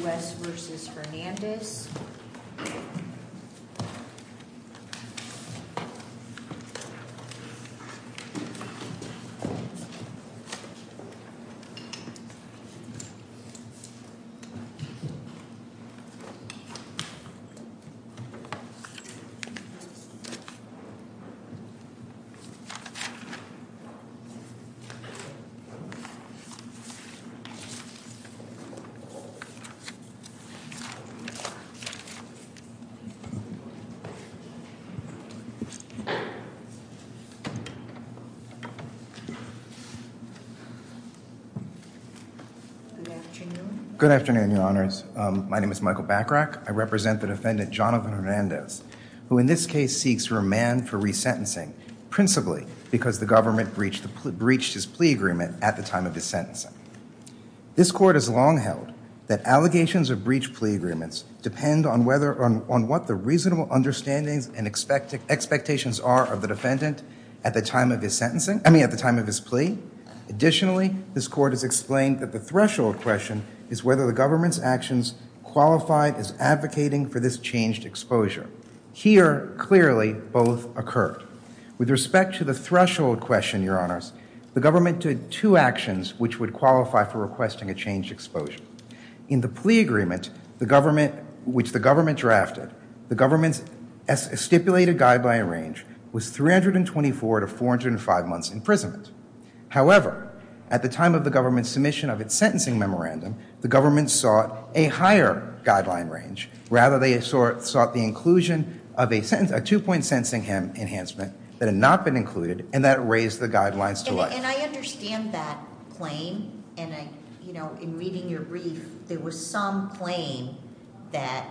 U.S. v. Fernandez Good afternoon, your honors. My name is Michael Bachrach. I represent the defendant, Jonathan Hernandez, who in this case seeks remand for resentencing, principally because the government breached his plea agreement at the time of his sentencing. This court has long held that allegations of breach of plea agreements depend on what the reasonable understandings and expectations are of the defendant at the time of his sentencing, I mean, at the time of his plea. Additionally, this court has explained that the threshold question is whether the government's actions qualified as advocating for this changed exposure. Here, clearly, both occurred. With respect to the threshold question, your honors, the government did two actions which would qualify for requesting a changed exposure. In the plea agreement, the government, which the government drafted, the government's stipulated guideline range was 324 to 405 months' imprisonment. However, at the time of the government's submission of its sentencing memorandum, the government sought a higher guideline range. Rather, they sought the inclusion of a two-point sentencing enhancement that had not been included and that raised the guidelines to life. And I understand that claim. And in reading your brief, there was some claim that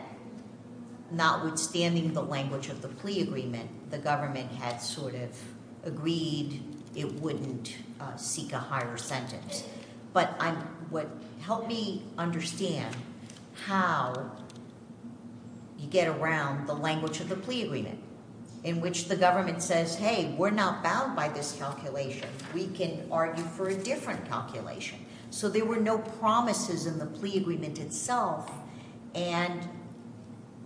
not withstanding the language of the plea agreement, the government had sort of agreed it wouldn't seek a higher sentence. But help me understand how you get around the language of the plea agreement in which the government says, hey, we're not bound by this calculation. We can argue for a different calculation. So there were no promises in the plea agreement itself. And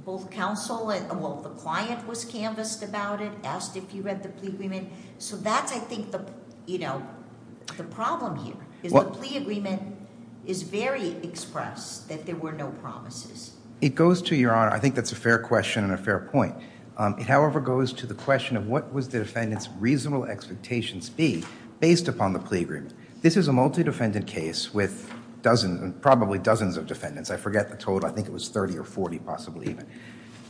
both counsel, well, the client was canvassed about it, asked if you read the plea agreement. So that's, I think, the problem here, is the plea agreement is very express, that there were no promises. It goes to, Your Honor, I think that's a fair question and a fair point. It, however, goes to the question of what was the defendant's reasonable expectations be based upon the plea agreement. This is a multi-defendant case with dozens, probably dozens of defendants. I forget the total. I think it was 30 or 40 possibly even.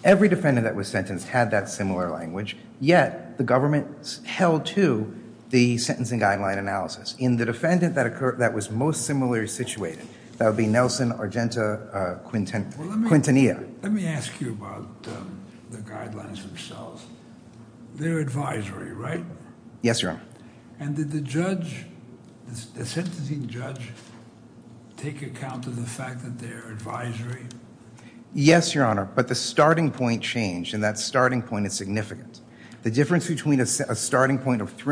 Every defendant that was sentenced had that similar language, yet the government held to the sentencing guideline analysis. In the case of the defendant that was most similarly situated, that would be Nelson, Argenta, Quintanilla. Let me ask you about the guidelines themselves. They're advisory, right? Yes, Your Honor. And did the judge, the sentencing judge, take account of the fact that they're advisory? Yes, Your Honor, but the starting point changed, and that starting point is significant. The starting point of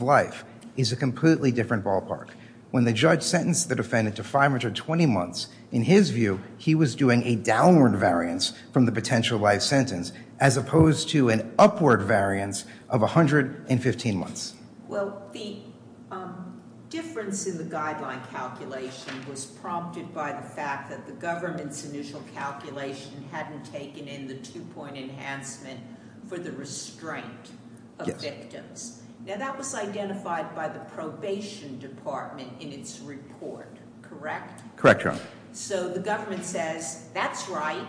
life is a completely different ballpark. When the judge sentenced the defendant to 520 months, in his view, he was doing a downward variance from the potential life sentence as opposed to an upward variance of 115 months. Well, the difference in the guideline calculation was prompted by the fact that the government's initial calculation hadn't taken in the two-point enhancement for the restraint of victims. Now, that was identified by the probation department in its report, correct? Correct, Your Honor. So the government says, that's right,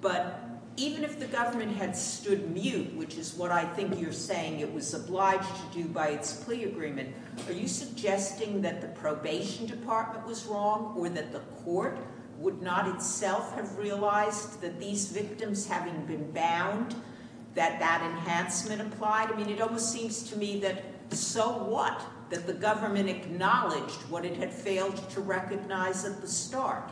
but even if the government had stood mute, which is what I think you're saying it was obliged to do by its plea agreement, are you suggesting that the probation department was wrong, or that the court would not itself have realized that these victims having been bound, that that enhancement applied? I mean, it almost seems to me that so what, that the government acknowledged what it had failed to recognize at the start?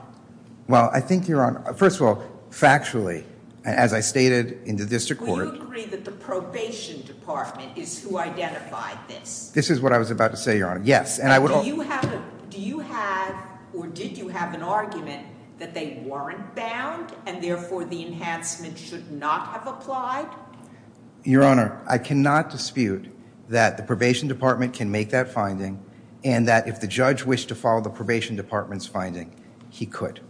Well, I think, Your Honor, first of all, factually, as I stated in the district court— Do you agree that the probation department is who identified this? This is what I was about to say, Your Honor, yes. Do you have, or did you have an argument that they weren't bound, and therefore the enhancement should not have applied? Your Honor, I cannot dispute that the probation department can make that finding, and that if the judge wished to follow the probation department's finding, he could.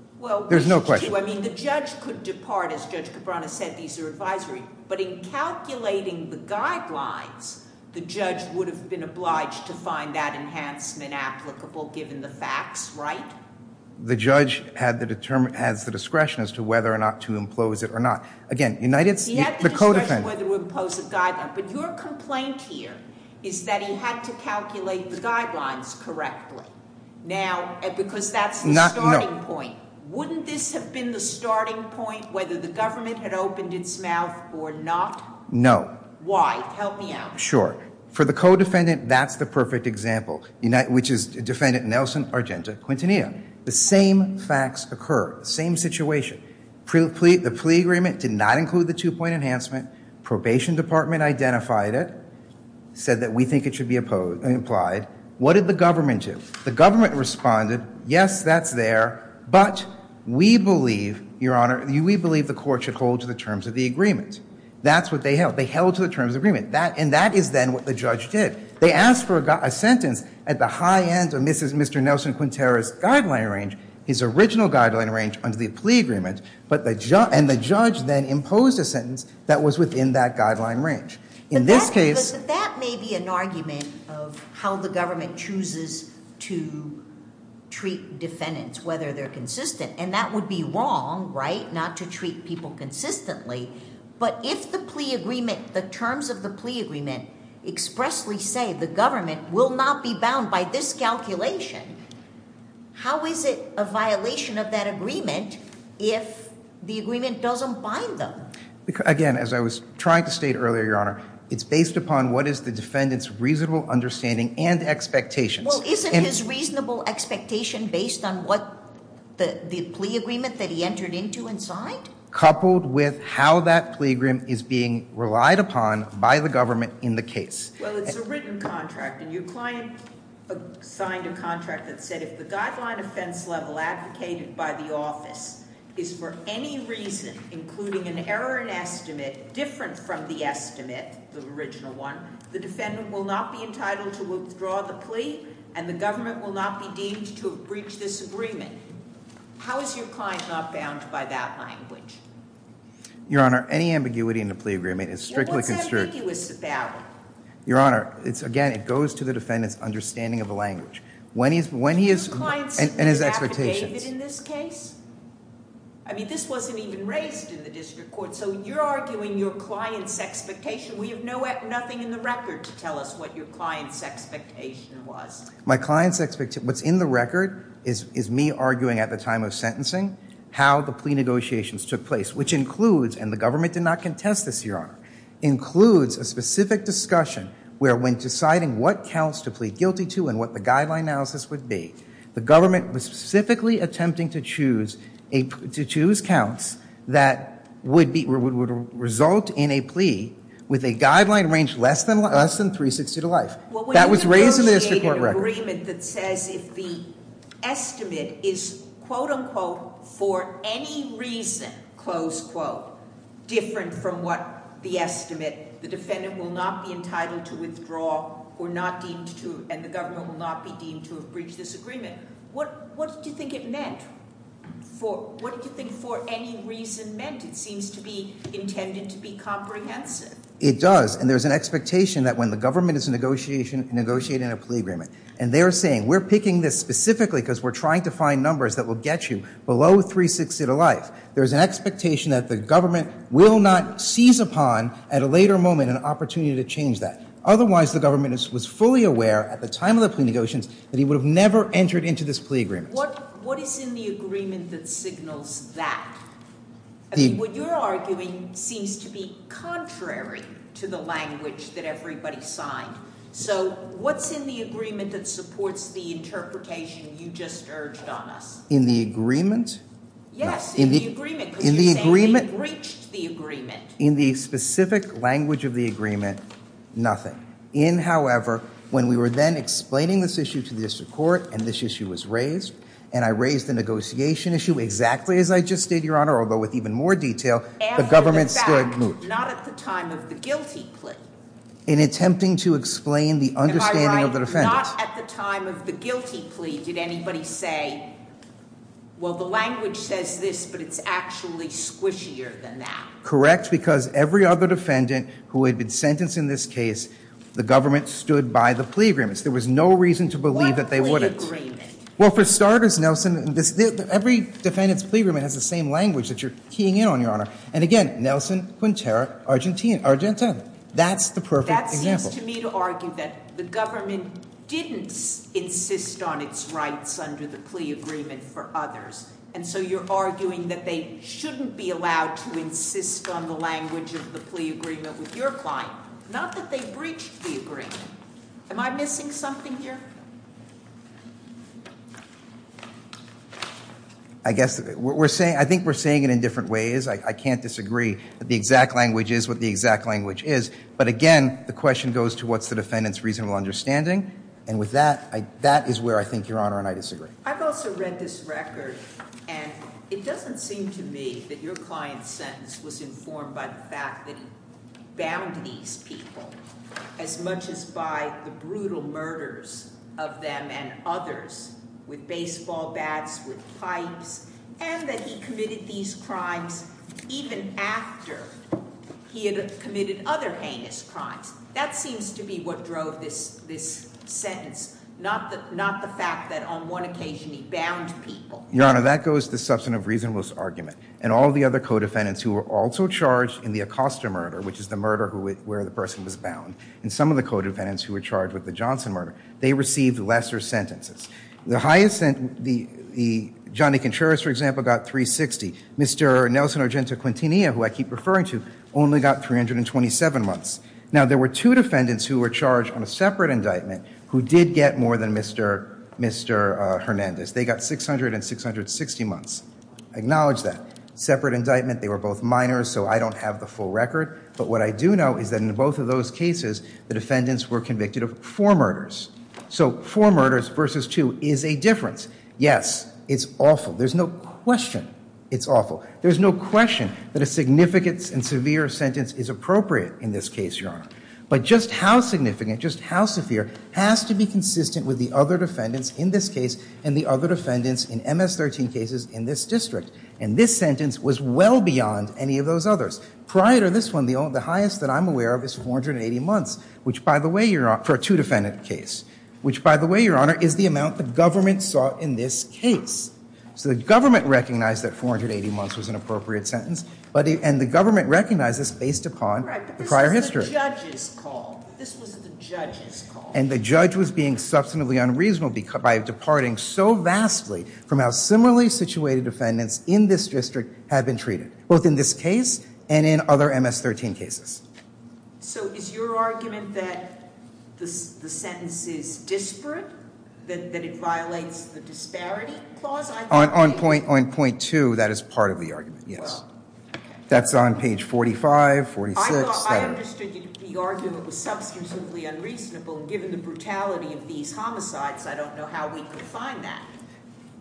There's no question. I mean, the judge could depart, as Judge Cabrera said, these are advisory, but in calculating the guidelines, the judge would have been obliged to find that enhancement applicable given the facts, right? The judge has the discretion as to whether or not to impose it or not. Again, United States— He had the discretion whether to impose a guideline, but your complaint here is that he had to calculate the guidelines correctly. Now, because that's the starting point. Wouldn't this have been the starting point, whether the government had opened its mouth or not? No. Why? Help me out. Sure. For the co-defendant, that's the perfect example, which is defendant Nelson Argenta Quintanilla. The same facts occur, same situation. The plea agreement did not include the two-point enhancement. Probation department identified it, said that we think it should be applied. What did the government do? The government responded, yes, that's there, but we believe, Your Honor, we believe the court should hold to the terms of the agreement. That's what they held. They held to the terms of the agreement, and that is then what the judge did. They asked for a sentence at the high end of Mr. Nelson Quintanilla's guideline range, his original guideline range under the plea agreement, and the judge then imposed a sentence that was within that guideline range. In this case— But that may be an argument of how the government chooses to treat defendants, whether they're consistent, and that would be wrong, right? Not to treat people consistently, but if the plea agreement, the terms of the plea agreement expressly say the government will not be bound by this calculation, how is it a violation of that agreement if the agreement doesn't bind them? Again, as I was trying to state earlier, Your Honor, it's based upon what is the defendant's reasonable understanding and expectations. Well, isn't his reasonable expectation based on what the plea agreement that he entered into and signed? Coupled with how that plea agreement is being relied upon by the government in the case. Well, it's a written contract, and your client signed a contract that said if the guideline offense level advocated by the office is for any reason, including an error in estimate different from the estimate, the original one, the defendant will not be entitled to withdraw the plea, and the government will not be deemed to have breached this agreement. How is your client not bound by that language? Your Honor, any ambiguity in the plea agreement is strictly constricted. Well, what's ambiguous about it? Your Honor, again, it goes to the defendant's understanding of the language. When he is, and his expectations. Did your client sign an affidavit in this case? I mean, this wasn't even raised in the district court, so you're arguing your client's expectation. We have nothing in the record to tell us what your client's expectation was. My client's expectation, what's in the record is me arguing at the time of sentencing how the plea negotiations took place, which includes, and the government did not contest this, Your Honor, includes a specific discussion where when deciding what counts to plead guilty to and what the guideline analysis would be, the government was specifically attempting to choose counts that would result in a plea with a guideline range less than 360 to life. That was raised in the district court record. Well, when you negotiate an agreement that says if the estimate is, quote unquote, for any reason, close quote, different from what the estimate, the defendant will not be entitled to withdraw and the government will not be deemed to have breached this agreement, what do you think it meant? What do you think for any reason meant? It seems to be intended to be comprehensive. It does. And there's an expectation that when the government is negotiating a plea agreement and they're saying we're picking this specifically because we're trying to find numbers that will get you below 360 to life, there's an expectation that the government will not seize upon at a later moment an opportunity to change that. Otherwise, the government was fully aware at the time of the plea negotiations that he would have never entered into this plea agreement. What is in the agreement that signals that? What you're arguing seems to be contrary to the language that everybody signed. So what's in the agreement that supports the interpretation you just urged on us? In the agreement? Yes, in the agreement. In the agreement. Because you're saying they breached the agreement. In the specific language of the agreement, nothing. In, however, when we were then explaining this issue to the district court and this the government stood moot. Not at the time of the guilty plea. In attempting to explain the understanding of the defendant. Not at the time of the guilty plea did anybody say, well, the language says this, but it's actually squishier than that. Correct, because every other defendant who had been sentenced in this case, the government stood by the plea agreements. There was no reason to believe that they wouldn't. What plea agreement? Well, for starters, Nelson, every defendant's plea agreement has the same language that you're keying in on, Your Honor. And again, Nelson, Quintero, Argentina. That's the perfect example. That seems to me to argue that the government didn't insist on its rights under the plea agreement for others. And so you're arguing that they shouldn't be allowed to insist on the language of the plea agreement with your client. Not that they breached the agreement. Am I missing something here? I think we're saying it in different ways. I can't disagree that the exact language is what the exact language is. But again, the question goes to what's the defendant's reasonable understanding. And with that, that is where I think, Your Honor, and I disagree. I've also read this record, and it doesn't seem to me that your client's sentence was informed by the fact that he bound these people as much as by the brutal murders of them and others with baseball bats, with pipes, and that he committed these crimes even after he had committed other heinous crimes. That seems to be what drove this sentence, not the fact that on one occasion he bound people. Your Honor, that goes to the substantive reasonableness argument. And all the other co-defendants who were also charged in the Acosta murder, which is the murder where the person was bound, and some of the co-defendants who were charged with the Johnson murder, they received lesser sentences. The Johnny Contreras, for example, got 360. Mr. Nelson Argento Quintanilla, who I keep referring to, only got 327 months. Now, there were two defendants who were charged on a separate indictment who did get more than Mr. Hernandez. They got 600 and 660 months. I acknowledge that. Separate indictment. They were both minors, so I don't have the full record. But what I do know is that in both of those cases, the defendants were convicted of four murders. So four murders versus two is a difference. Yes, it's awful. There's no question it's awful. There's no question that a significant and severe sentence is appropriate in this case, Your Honor. But just how significant, just how severe, has to be consistent with the other defendants in this case and the other defendants in MS-13 cases in this district. And this sentence was well beyond any of those others. Prior to this one, the highest that I'm aware of is 480 months, for a two-defendant case, which, by the way, Your Honor, is the amount the government saw in this case. So the government recognized that 480 months was an appropriate sentence, and the government recognized this based upon the prior history. Right, but this was the judge's call. This was the judge's call. And the judge was being substantively unreasonable by departing so vastly from how similarly situated defendants in this district had been treated, both in this case and in other MS-13 cases. So is your argument that the sentence is disparate, that it violates the disparity clause? On point 2, that is part of the argument, yes. That's on page 45, 46. I understood the argument was substantively unreasonable. Given the brutality of these homicides, I don't know how we could find that.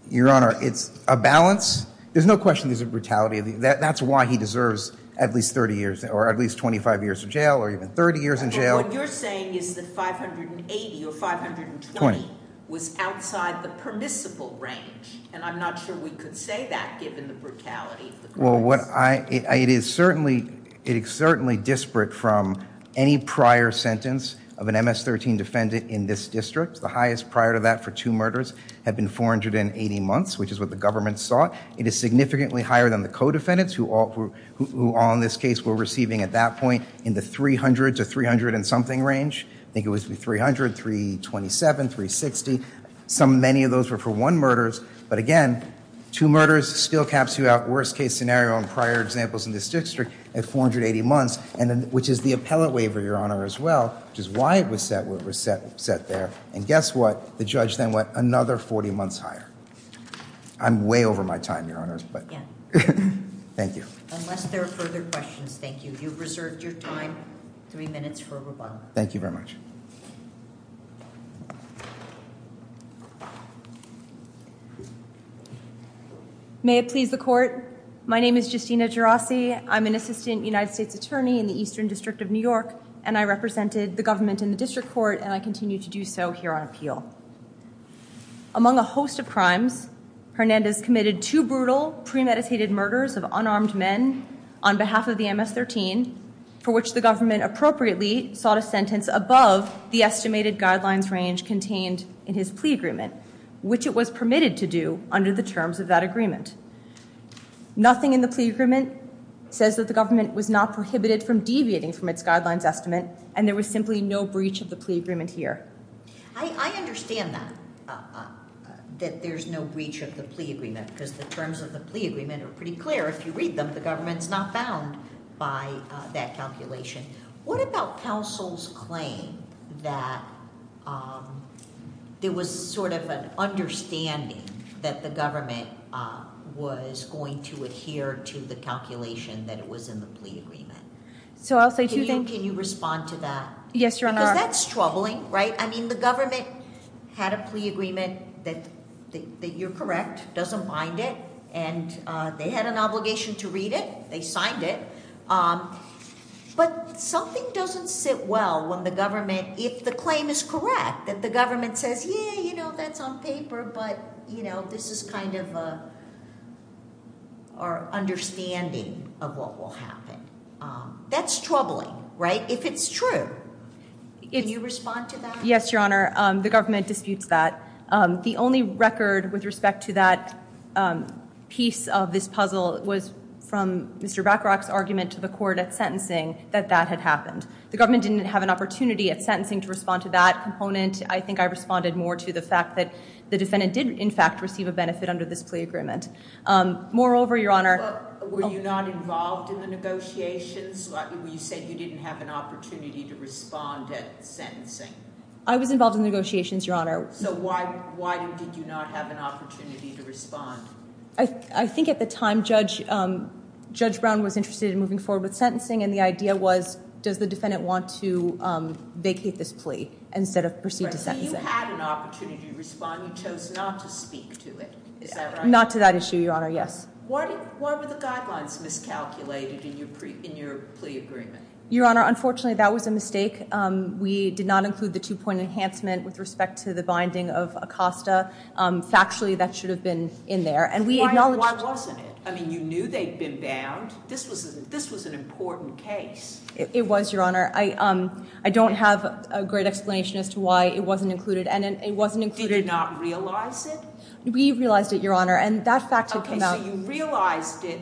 Your Honor, it's a balance. There's no question there's a brutality. That's why he deserves at least 30 years or at least 25 years in jail or even 30 years in jail. What you're saying is that 580 or 520 was outside the permissible range, and I'm not sure we could say that given the brutality of the crimes. It is certainly disparate from any prior sentence of an MS-13 defendant in this district. The highest prior to that for two murders had been 480 months, which is what the government sought. It is significantly higher than the co-defendants who all in this case were receiving at that point in the 300 to 300 and something range. I think it was 300, 327, 360. Many of those were for one murders. But again, two murders still caps you out. Worst case scenario in prior examples in this district at 480 months, which is the appellate waiver, Your Honor, as well, which is why it was set there. And guess what? The judge then went another 40 months higher. I'm way over my time, Your Honor. Thank you. Unless there are further questions. Thank you. You've reserved your time, three minutes for rebuttal. Thank you very much. May it please the Court. My name is Justina Gerasi. I'm an assistant United States attorney in the Eastern District of New York, and I represented the government in the district court, and I continue to do so here on appeal. Among a host of crimes, Hernandez committed two brutal premeditated murders of unarmed men on behalf of the MS-13, for which the government appropriately sought a sentence above the estimated guidelines range contained in his plea agreement, which it was permitted to do under the terms of that agreement. Nothing in the plea agreement says that the government was not prohibited from deviating from its guidelines estimate, and there was simply no breach of the plea agreement here. I understand that, that there's no breach of the plea agreement, because the terms of the plea agreement are pretty clear. If you read them, the government's not bound by that calculation. What about counsel's claim that there was sort of an understanding that the government was going to adhere to the calculation that it was in the plea agreement? So I'll say two things. Can you respond to that? Yes, Your Honor. Because that's troubling, right? I mean, the government had a plea agreement that you're correct, doesn't bind it, and they had an obligation to read it. They signed it. But something doesn't sit well when the government, if the claim is correct, that the government says, yeah, you know, that's on paper, but, you know, this is kind of our understanding of what will happen. That's troubling, right, if it's true. Can you respond to that? Yes, Your Honor. The government disputes that. The only record with respect to that piece of this puzzle was from Mr. Bacharach's argument to the court at sentencing that that had happened. The government didn't have an opportunity at sentencing to respond to that component. I think I responded more to the fact that the defendant did, in fact, receive a benefit under this plea agreement. Moreover, Your Honor. Were you not involved in the negotiations? You said you didn't have an opportunity to respond at sentencing. I was involved in the negotiations, Your Honor. So why did you not have an opportunity to respond? I think at the time, Judge Brown was interested in moving forward with sentencing, and the idea was, does the defendant want to vacate this plea instead of proceed to sentencing? Right, so you had an opportunity to respond. You chose not to speak to it. Is that right? Not to that issue, Your Honor, yes. Why were the guidelines miscalculated in your plea agreement? Your Honor, unfortunately, that was a mistake. We did not include the two-point enhancement with respect to the binding of Acosta. Factually, that should have been in there. Why wasn't it? I mean, you knew they'd been bound. This was an important case. It was, Your Honor. I don't have a great explanation as to why it wasn't included. Did you not realize it? We realized it, Your Honor, and that fact had come out. Okay, so you realized it.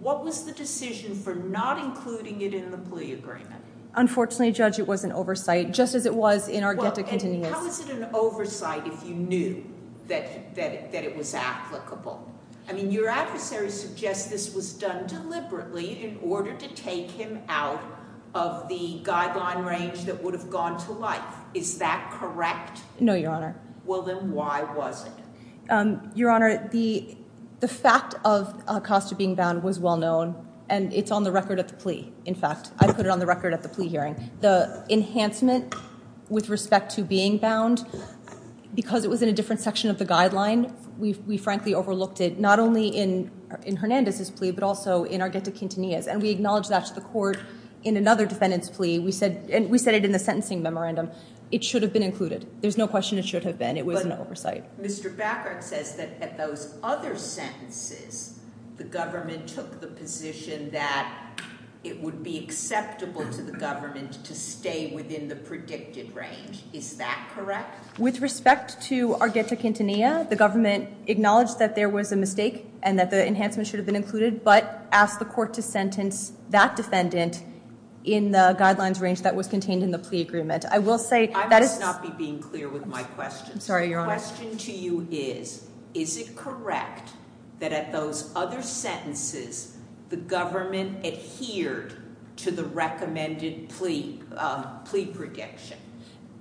What was the decision for not including it in the plea agreement? Unfortunately, Judge, it was an oversight, just as it was in our get-to-continuance. How is it an oversight if you knew that it was applicable? I mean, your adversary suggests this was done deliberately in order to take him out of the guideline range that would have gone to life. Is that correct? No, Your Honor. Well, then why was it? Your Honor, the fact of Acosta being bound was well known, and it's on the record of the plea, in fact. I put it on the record at the plea hearing. The enhancement with respect to being bound, because it was in a different section of the guideline, we frankly overlooked it not only in Hernandez's plea but also in our get-to-continuance, and we acknowledged that to the court in another defendant's plea. We said it in the sentencing memorandum. It should have been included. There's no question it should have been. It was an oversight. Mr. Beckert says that at those other sentences, the government took the position that it would be acceptable to the government to stay within the predicted range. Is that correct? With respect to our get-to-continuance, the government acknowledged that there was a mistake and that the enhancement should have been included but asked the court to sentence that defendant in the guidelines range that was contained in the plea agreement. I will say that it's – I must not be being clear with my questions. I'm sorry, Your Honor. The question to you is, is it correct that at those other sentences, the government adhered to the recommended plea prediction?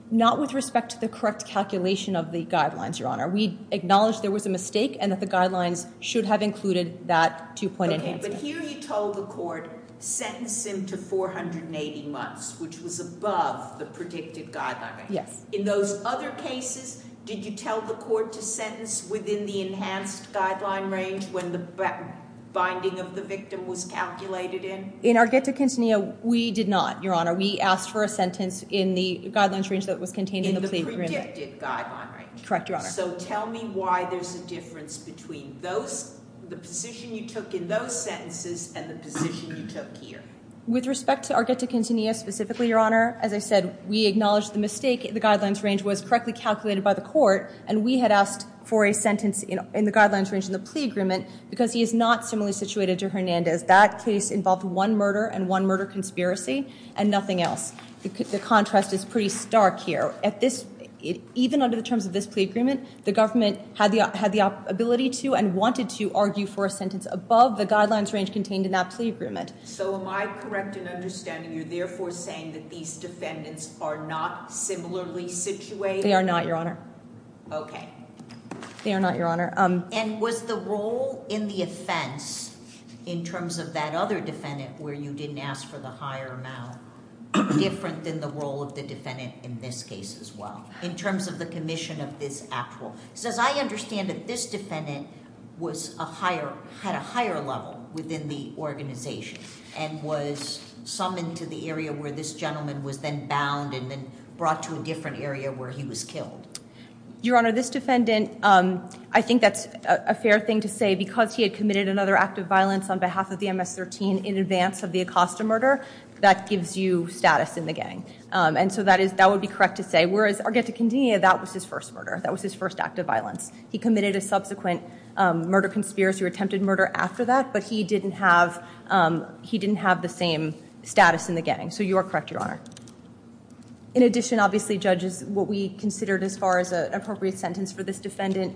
Not with respect to the correct calculation of the guidelines, Your Honor. We acknowledged there was a mistake and that the guidelines should have included that two-point enhancement. Okay, but here you told the court, sentence him to 480 months, which was above the predicted guideline. Yes. In those other cases, did you tell the court to sentence within the enhanced guideline range when the binding of the victim was calculated in? In our get-to-continuance, we did not, Your Honor. We asked for a sentence in the guidelines range that was contained in the plea agreement. In the predicted guideline range. Correct, Your Honor. So tell me why there's a difference between those – the position you took in those sentences and the position you took here. With respect to our get-to-continuance specifically, Your Honor, as I said, we acknowledged the mistake. The guidelines range was correctly calculated by the court. And we had asked for a sentence in the guidelines range in the plea agreement because he is not similarly situated to Hernandez. That case involved one murder and one murder conspiracy and nothing else. The contrast is pretty stark here. Even under the terms of this plea agreement, the government had the ability to and wanted to argue for a sentence above the guidelines range contained in that plea agreement. So am I correct in understanding you're therefore saying that these defendants are not similarly situated? They are not, Your Honor. Okay. They are not, Your Honor. And was the role in the offense in terms of that other defendant where you didn't ask for the higher amount different than the role of the defendant in this case as well in terms of the commission of this actual? Because as I understand it, this defendant had a higher level within the organization and was summoned to the area where this gentleman was then bound and then brought to a different area where he was killed. Your Honor, this defendant, I think that's a fair thing to say because he had committed another act of violence on behalf of the MS-13 in advance of the Acosta murder. That gives you status in the gang. And so that would be correct to say. Whereas, Arguetta Conde, that was his first murder. That was his first act of violence. He committed a subsequent murder conspiracy or attempted murder after that, but he didn't have the same status in the gang. So you are correct, Your Honor. In addition, obviously, judges, what we considered as far as an appropriate sentence for this defendant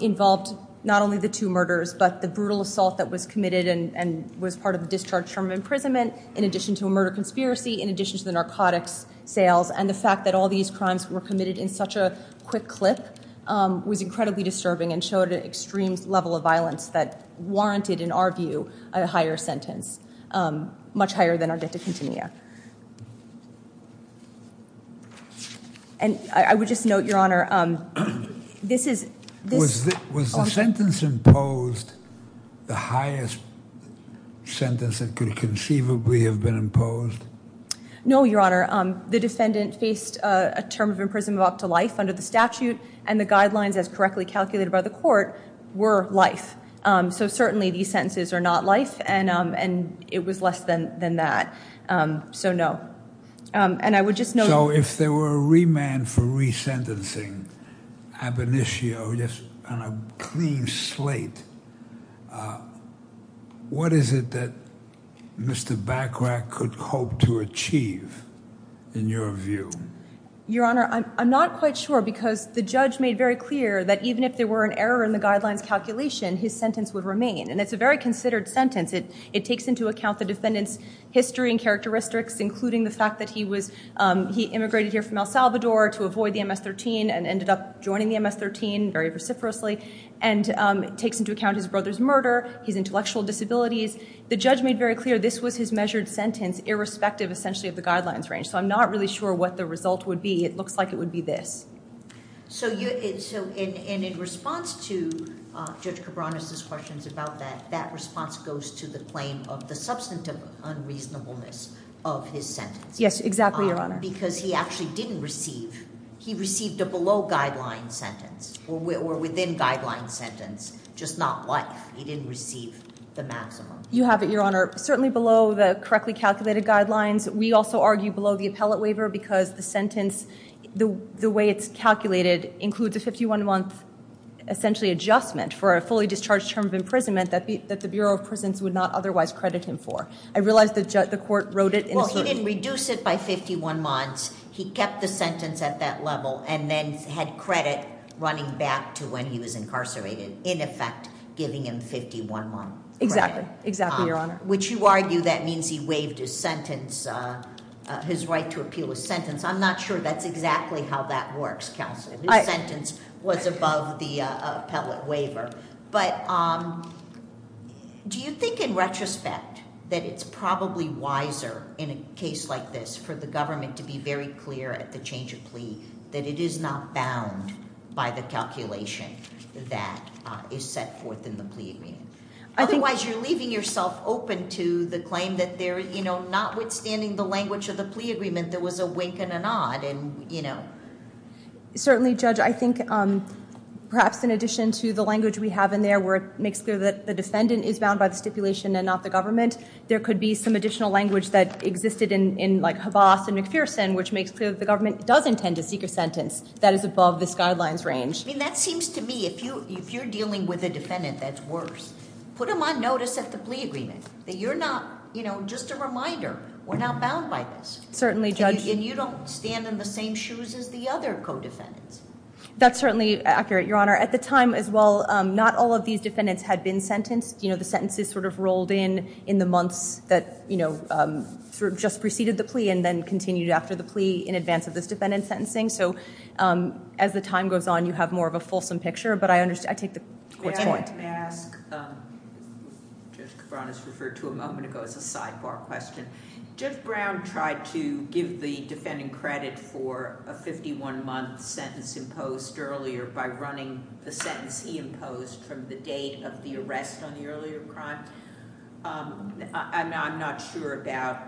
involved not only the two murders but the brutal assault that was committed and was part of the discharge term of imprisonment in addition to a murder conspiracy, in addition to the narcotics sales, and the fact that all these crimes were committed in such a quick clip was incredibly disturbing and showed an extreme level of violence that warranted, in our view, a higher sentence, much higher than Arguetta Conde. And I would just note, Your Honor, this is- Was the sentence imposed the highest sentence that could conceivably have been imposed? No, Your Honor. The defendant faced a term of imprisonment up to life under the statute, and the guidelines, as correctly calculated by the court, were life. So certainly these sentences are not life, and it was less than that. So no. And I would just note- So if there were a remand for resentencing, ab initio, just on a clean slate, what is it that Mr. Bachrach could hope to achieve, in your view? Your Honor, I'm not quite sure because the judge made very clear that even if there were an error in the guidelines calculation, his sentence would remain, and it's a very considered sentence. It takes into account the defendant's history and characteristics, including the fact that he immigrated here from El Salvador to avoid the MS-13 and ended up joining the MS-13 very vociferously. And it takes into account his brother's murder, his intellectual disabilities. The judge made very clear this was his measured sentence, irrespective, essentially, of the guidelines range. So I'm not really sure what the result would be. It looks like it would be this. So in response to Judge Cabranes' questions about that, that response goes to the claim of the substantive unreasonableness of his sentence. Yes, exactly, Your Honor. Because he actually didn't receive – he received a below-guideline sentence, or within-guideline sentence, just not life. He didn't receive the maximum. You have it, Your Honor. Certainly below the correctly calculated guidelines. We also argue below the appellate waiver because the sentence, the way it's calculated, includes a 51-month, essentially, adjustment for a fully discharged term of imprisonment that the Bureau of Prisons would not otherwise credit him for. I realize the court wrote it in a certain – Well, he didn't reduce it by 51 months. He kept the sentence at that level and then had credit running back to when he was incarcerated, in effect giving him 51-month credit. Exactly. Exactly, Your Honor. Which you argue that means he waived his sentence, his right to appeal his sentence. I'm not sure that's exactly how that works, Counselor. His sentence was above the appellate waiver. But do you think in retrospect that it's probably wiser in a case like this for the government to be very clear at the change of plea that it is not bound by the calculation that is set forth in the plea agreement? Otherwise, you're leaving yourself open to the claim that there – notwithstanding the language of the plea agreement, there was a wink and a nod. Certainly, Judge. I think perhaps in addition to the language we have in there where it makes clear that the defendant is bound by the stipulation and not the government, there could be some additional language that existed in like Havas and McPherson, which makes clear that the government does intend to seek a sentence that is above this guidelines range. That seems to me, if you're dealing with a defendant that's worse, put them on notice at the plea agreement, that you're not – just a reminder, we're not bound by this. Certainly, Judge. And you don't stand in the same shoes as the other co-defendants. That's certainly accurate, Your Honor. At the time as well, not all of these defendants had been sentenced. The sentences sort of rolled in in the months that just preceded the plea and then continued after the plea in advance of this defendant's sentencing. So as the time goes on, you have more of a fulsome picture. But I take the court's point. May I ask – Judge Cabran has referred to a moment ago as a sidebar question. Judge Brown tried to give the defendant credit for a 51-month sentence imposed earlier by running the sentence he imposed from the date of the arrest on the earlier crime. I'm not sure about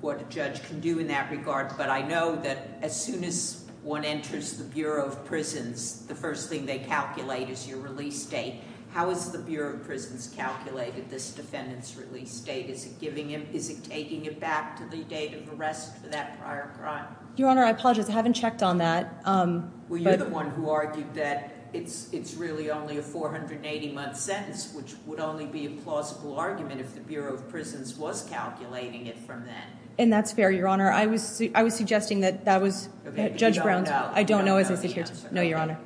what a judge can do in that regard, but I know that as soon as one enters the Bureau of Prisons, the first thing they calculate is your release date. How has the Bureau of Prisons calculated this defendant's release date? Is it giving him – is it taking it back to the date of arrest for that prior crime? Your Honor, I apologize. I haven't checked on that. Well, you're the one who argued that it's really only a 480-month sentence, which would only be a plausible argument if the Bureau of Prisons was calculating it from then. And that's fair, Your Honor. I was suggesting that that was – Judge Brown's – Okay, but you don't know. I don't know as I sit here. No, Your Honor.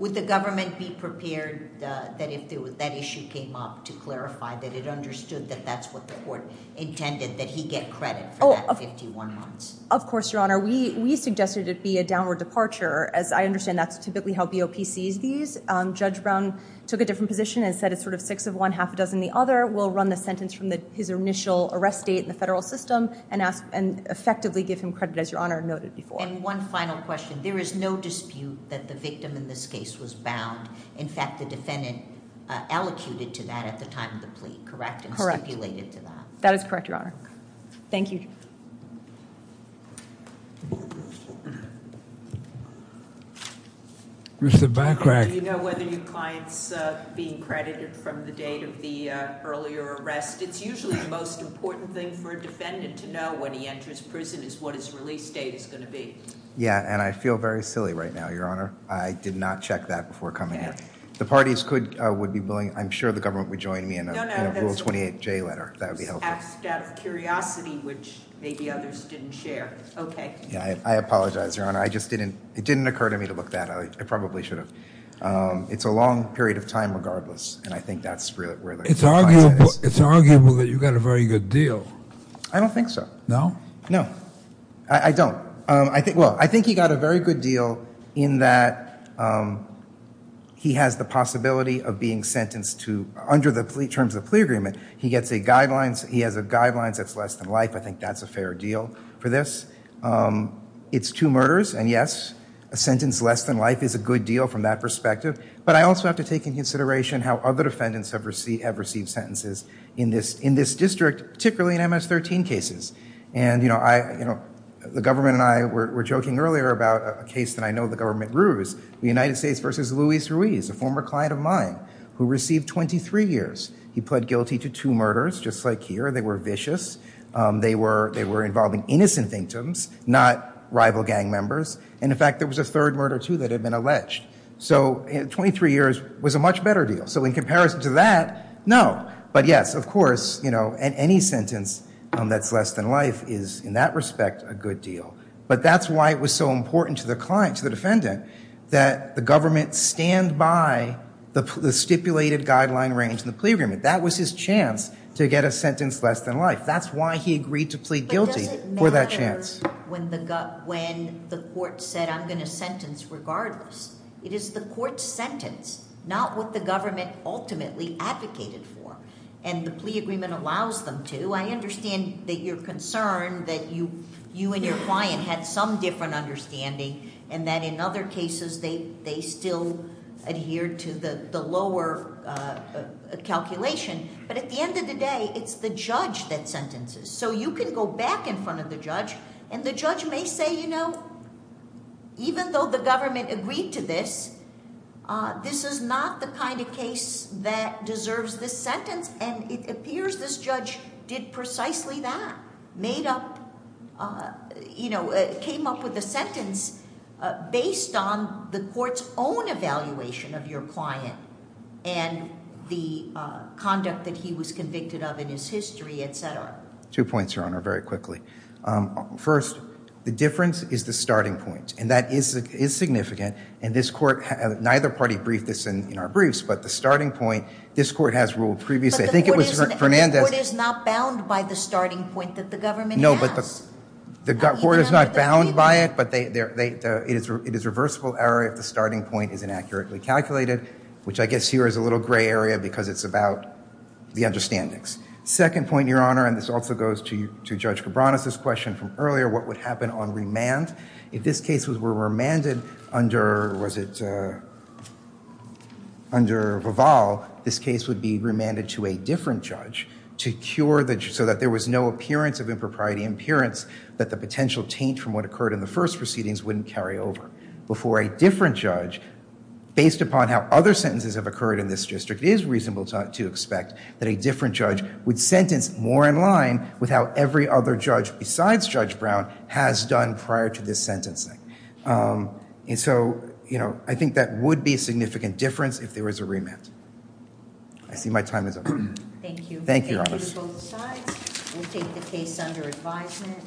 Would the government be prepared that if that issue came up to clarify that it understood that that's what the court intended, that he get credit for that 51 months? Of course, Your Honor. We suggested it be a downward departure. As I understand, that's typically how BOP sees these. Judge Brown took a different position and said it's sort of six of one, half a dozen the other. We'll run the sentence from his initial arrest date in the federal system and effectively give him credit, as Your Honor noted before. And one final question. There is no dispute that the victim in this case was bound. In fact, the defendant allocated to that at the time of the plea, correct? Correct. And stipulated to that. That is correct, Your Honor. Thank you. Mr. Bachrach. Do you know whether your client's being credited from the date of the earlier arrest? It's usually the most important thing for a defendant to know when he enters prison is what his release date is going to be. Yeah, and I feel very silly right now, Your Honor. I did not check that before coming here. The parties would be willing – I'm sure the government would join me in a Rule 28J letter. That would be helpful. I asked out of curiosity, which maybe others didn't share. Okay. I apologize, Your Honor. It didn't occur to me to look that up. I probably should have. It's a long period of time regardless, and I think that's where the client is. It's arguable that you got a very good deal. I don't think so. No? No. I don't. Well, I think he got a very good deal in that he has the possibility of being sentenced to, under the terms of the plea agreement, he has guidelines that's less than life. I think that's a fair deal for this. It's two murders, and yes, a sentence less than life is a good deal from that perspective, but I also have to take into consideration how other defendants have received sentences in this district, particularly in MS-13 cases. And, you know, the government and I were joking earlier about a case that I know the government rules, the United States v. Luis Ruiz, a former client of mine who received 23 years. He pled guilty to two murders, just like here. They were vicious. They were involving innocent victims, not rival gang members. And, in fact, there was a third murder, too, that had been alleged. So 23 years was a much better deal. So in comparison to that, no. But, yes, of course, you know, any sentence that's less than life is, in that respect, a good deal. But that's why it was so important to the client, to the defendant, that the government stand by the stipulated guideline range in the plea agreement. That was his chance to get a sentence less than life. That's why he agreed to plead guilty for that chance. But does it matter when the court said, I'm going to sentence regardless? It is the court's sentence, not what the government ultimately advocated for, and the plea agreement allows them to. I understand that you're concerned that you and your client had some different understanding and that in other cases they still adhered to the lower calculation. But at the end of the day, it's the judge that sentences. So you can go back in front of the judge, and the judge may say, you know, even though the government agreed to this, this is not the kind of case that deserves this sentence, and it appears this judge did precisely that, made up, you know, came up with a sentence based on the court's own evaluation of your client and the conduct that he was convicted of in his history, et cetera. Two points, Your Honor, very quickly. First, the difference is the starting point, and that is significant, and this court, neither party briefed this in our briefs, but the starting point, this court has ruled previously. I think it was Fernandez. But the court is not bound by the starting point that the government has. No, but the court is not bound by it, but it is reversible error if the starting point is inaccurately calculated, which I guess here is a little gray area because it's about the understandings. Second point, Your Honor, and this also goes to Judge Cabranes' question from earlier, what would happen on remand? If this case were remanded under, was it, under Vival, this case would be remanded to a different judge to cure the judge so that there was no appearance of impropriety, appearance that the potential taint from what occurred in the first proceedings wouldn't carry over before a different judge, based upon how other sentences have occurred in this district, it is reasonable to expect that a different judge would sentence more in line with how every other judge besides Judge Brown has done prior to this sentencing. And so, you know, I think that would be a significant difference if there was a remand. I see my time is up. Thank you. Thank you, Your Honor. Thank you to both sides. We'll take the case under advisement.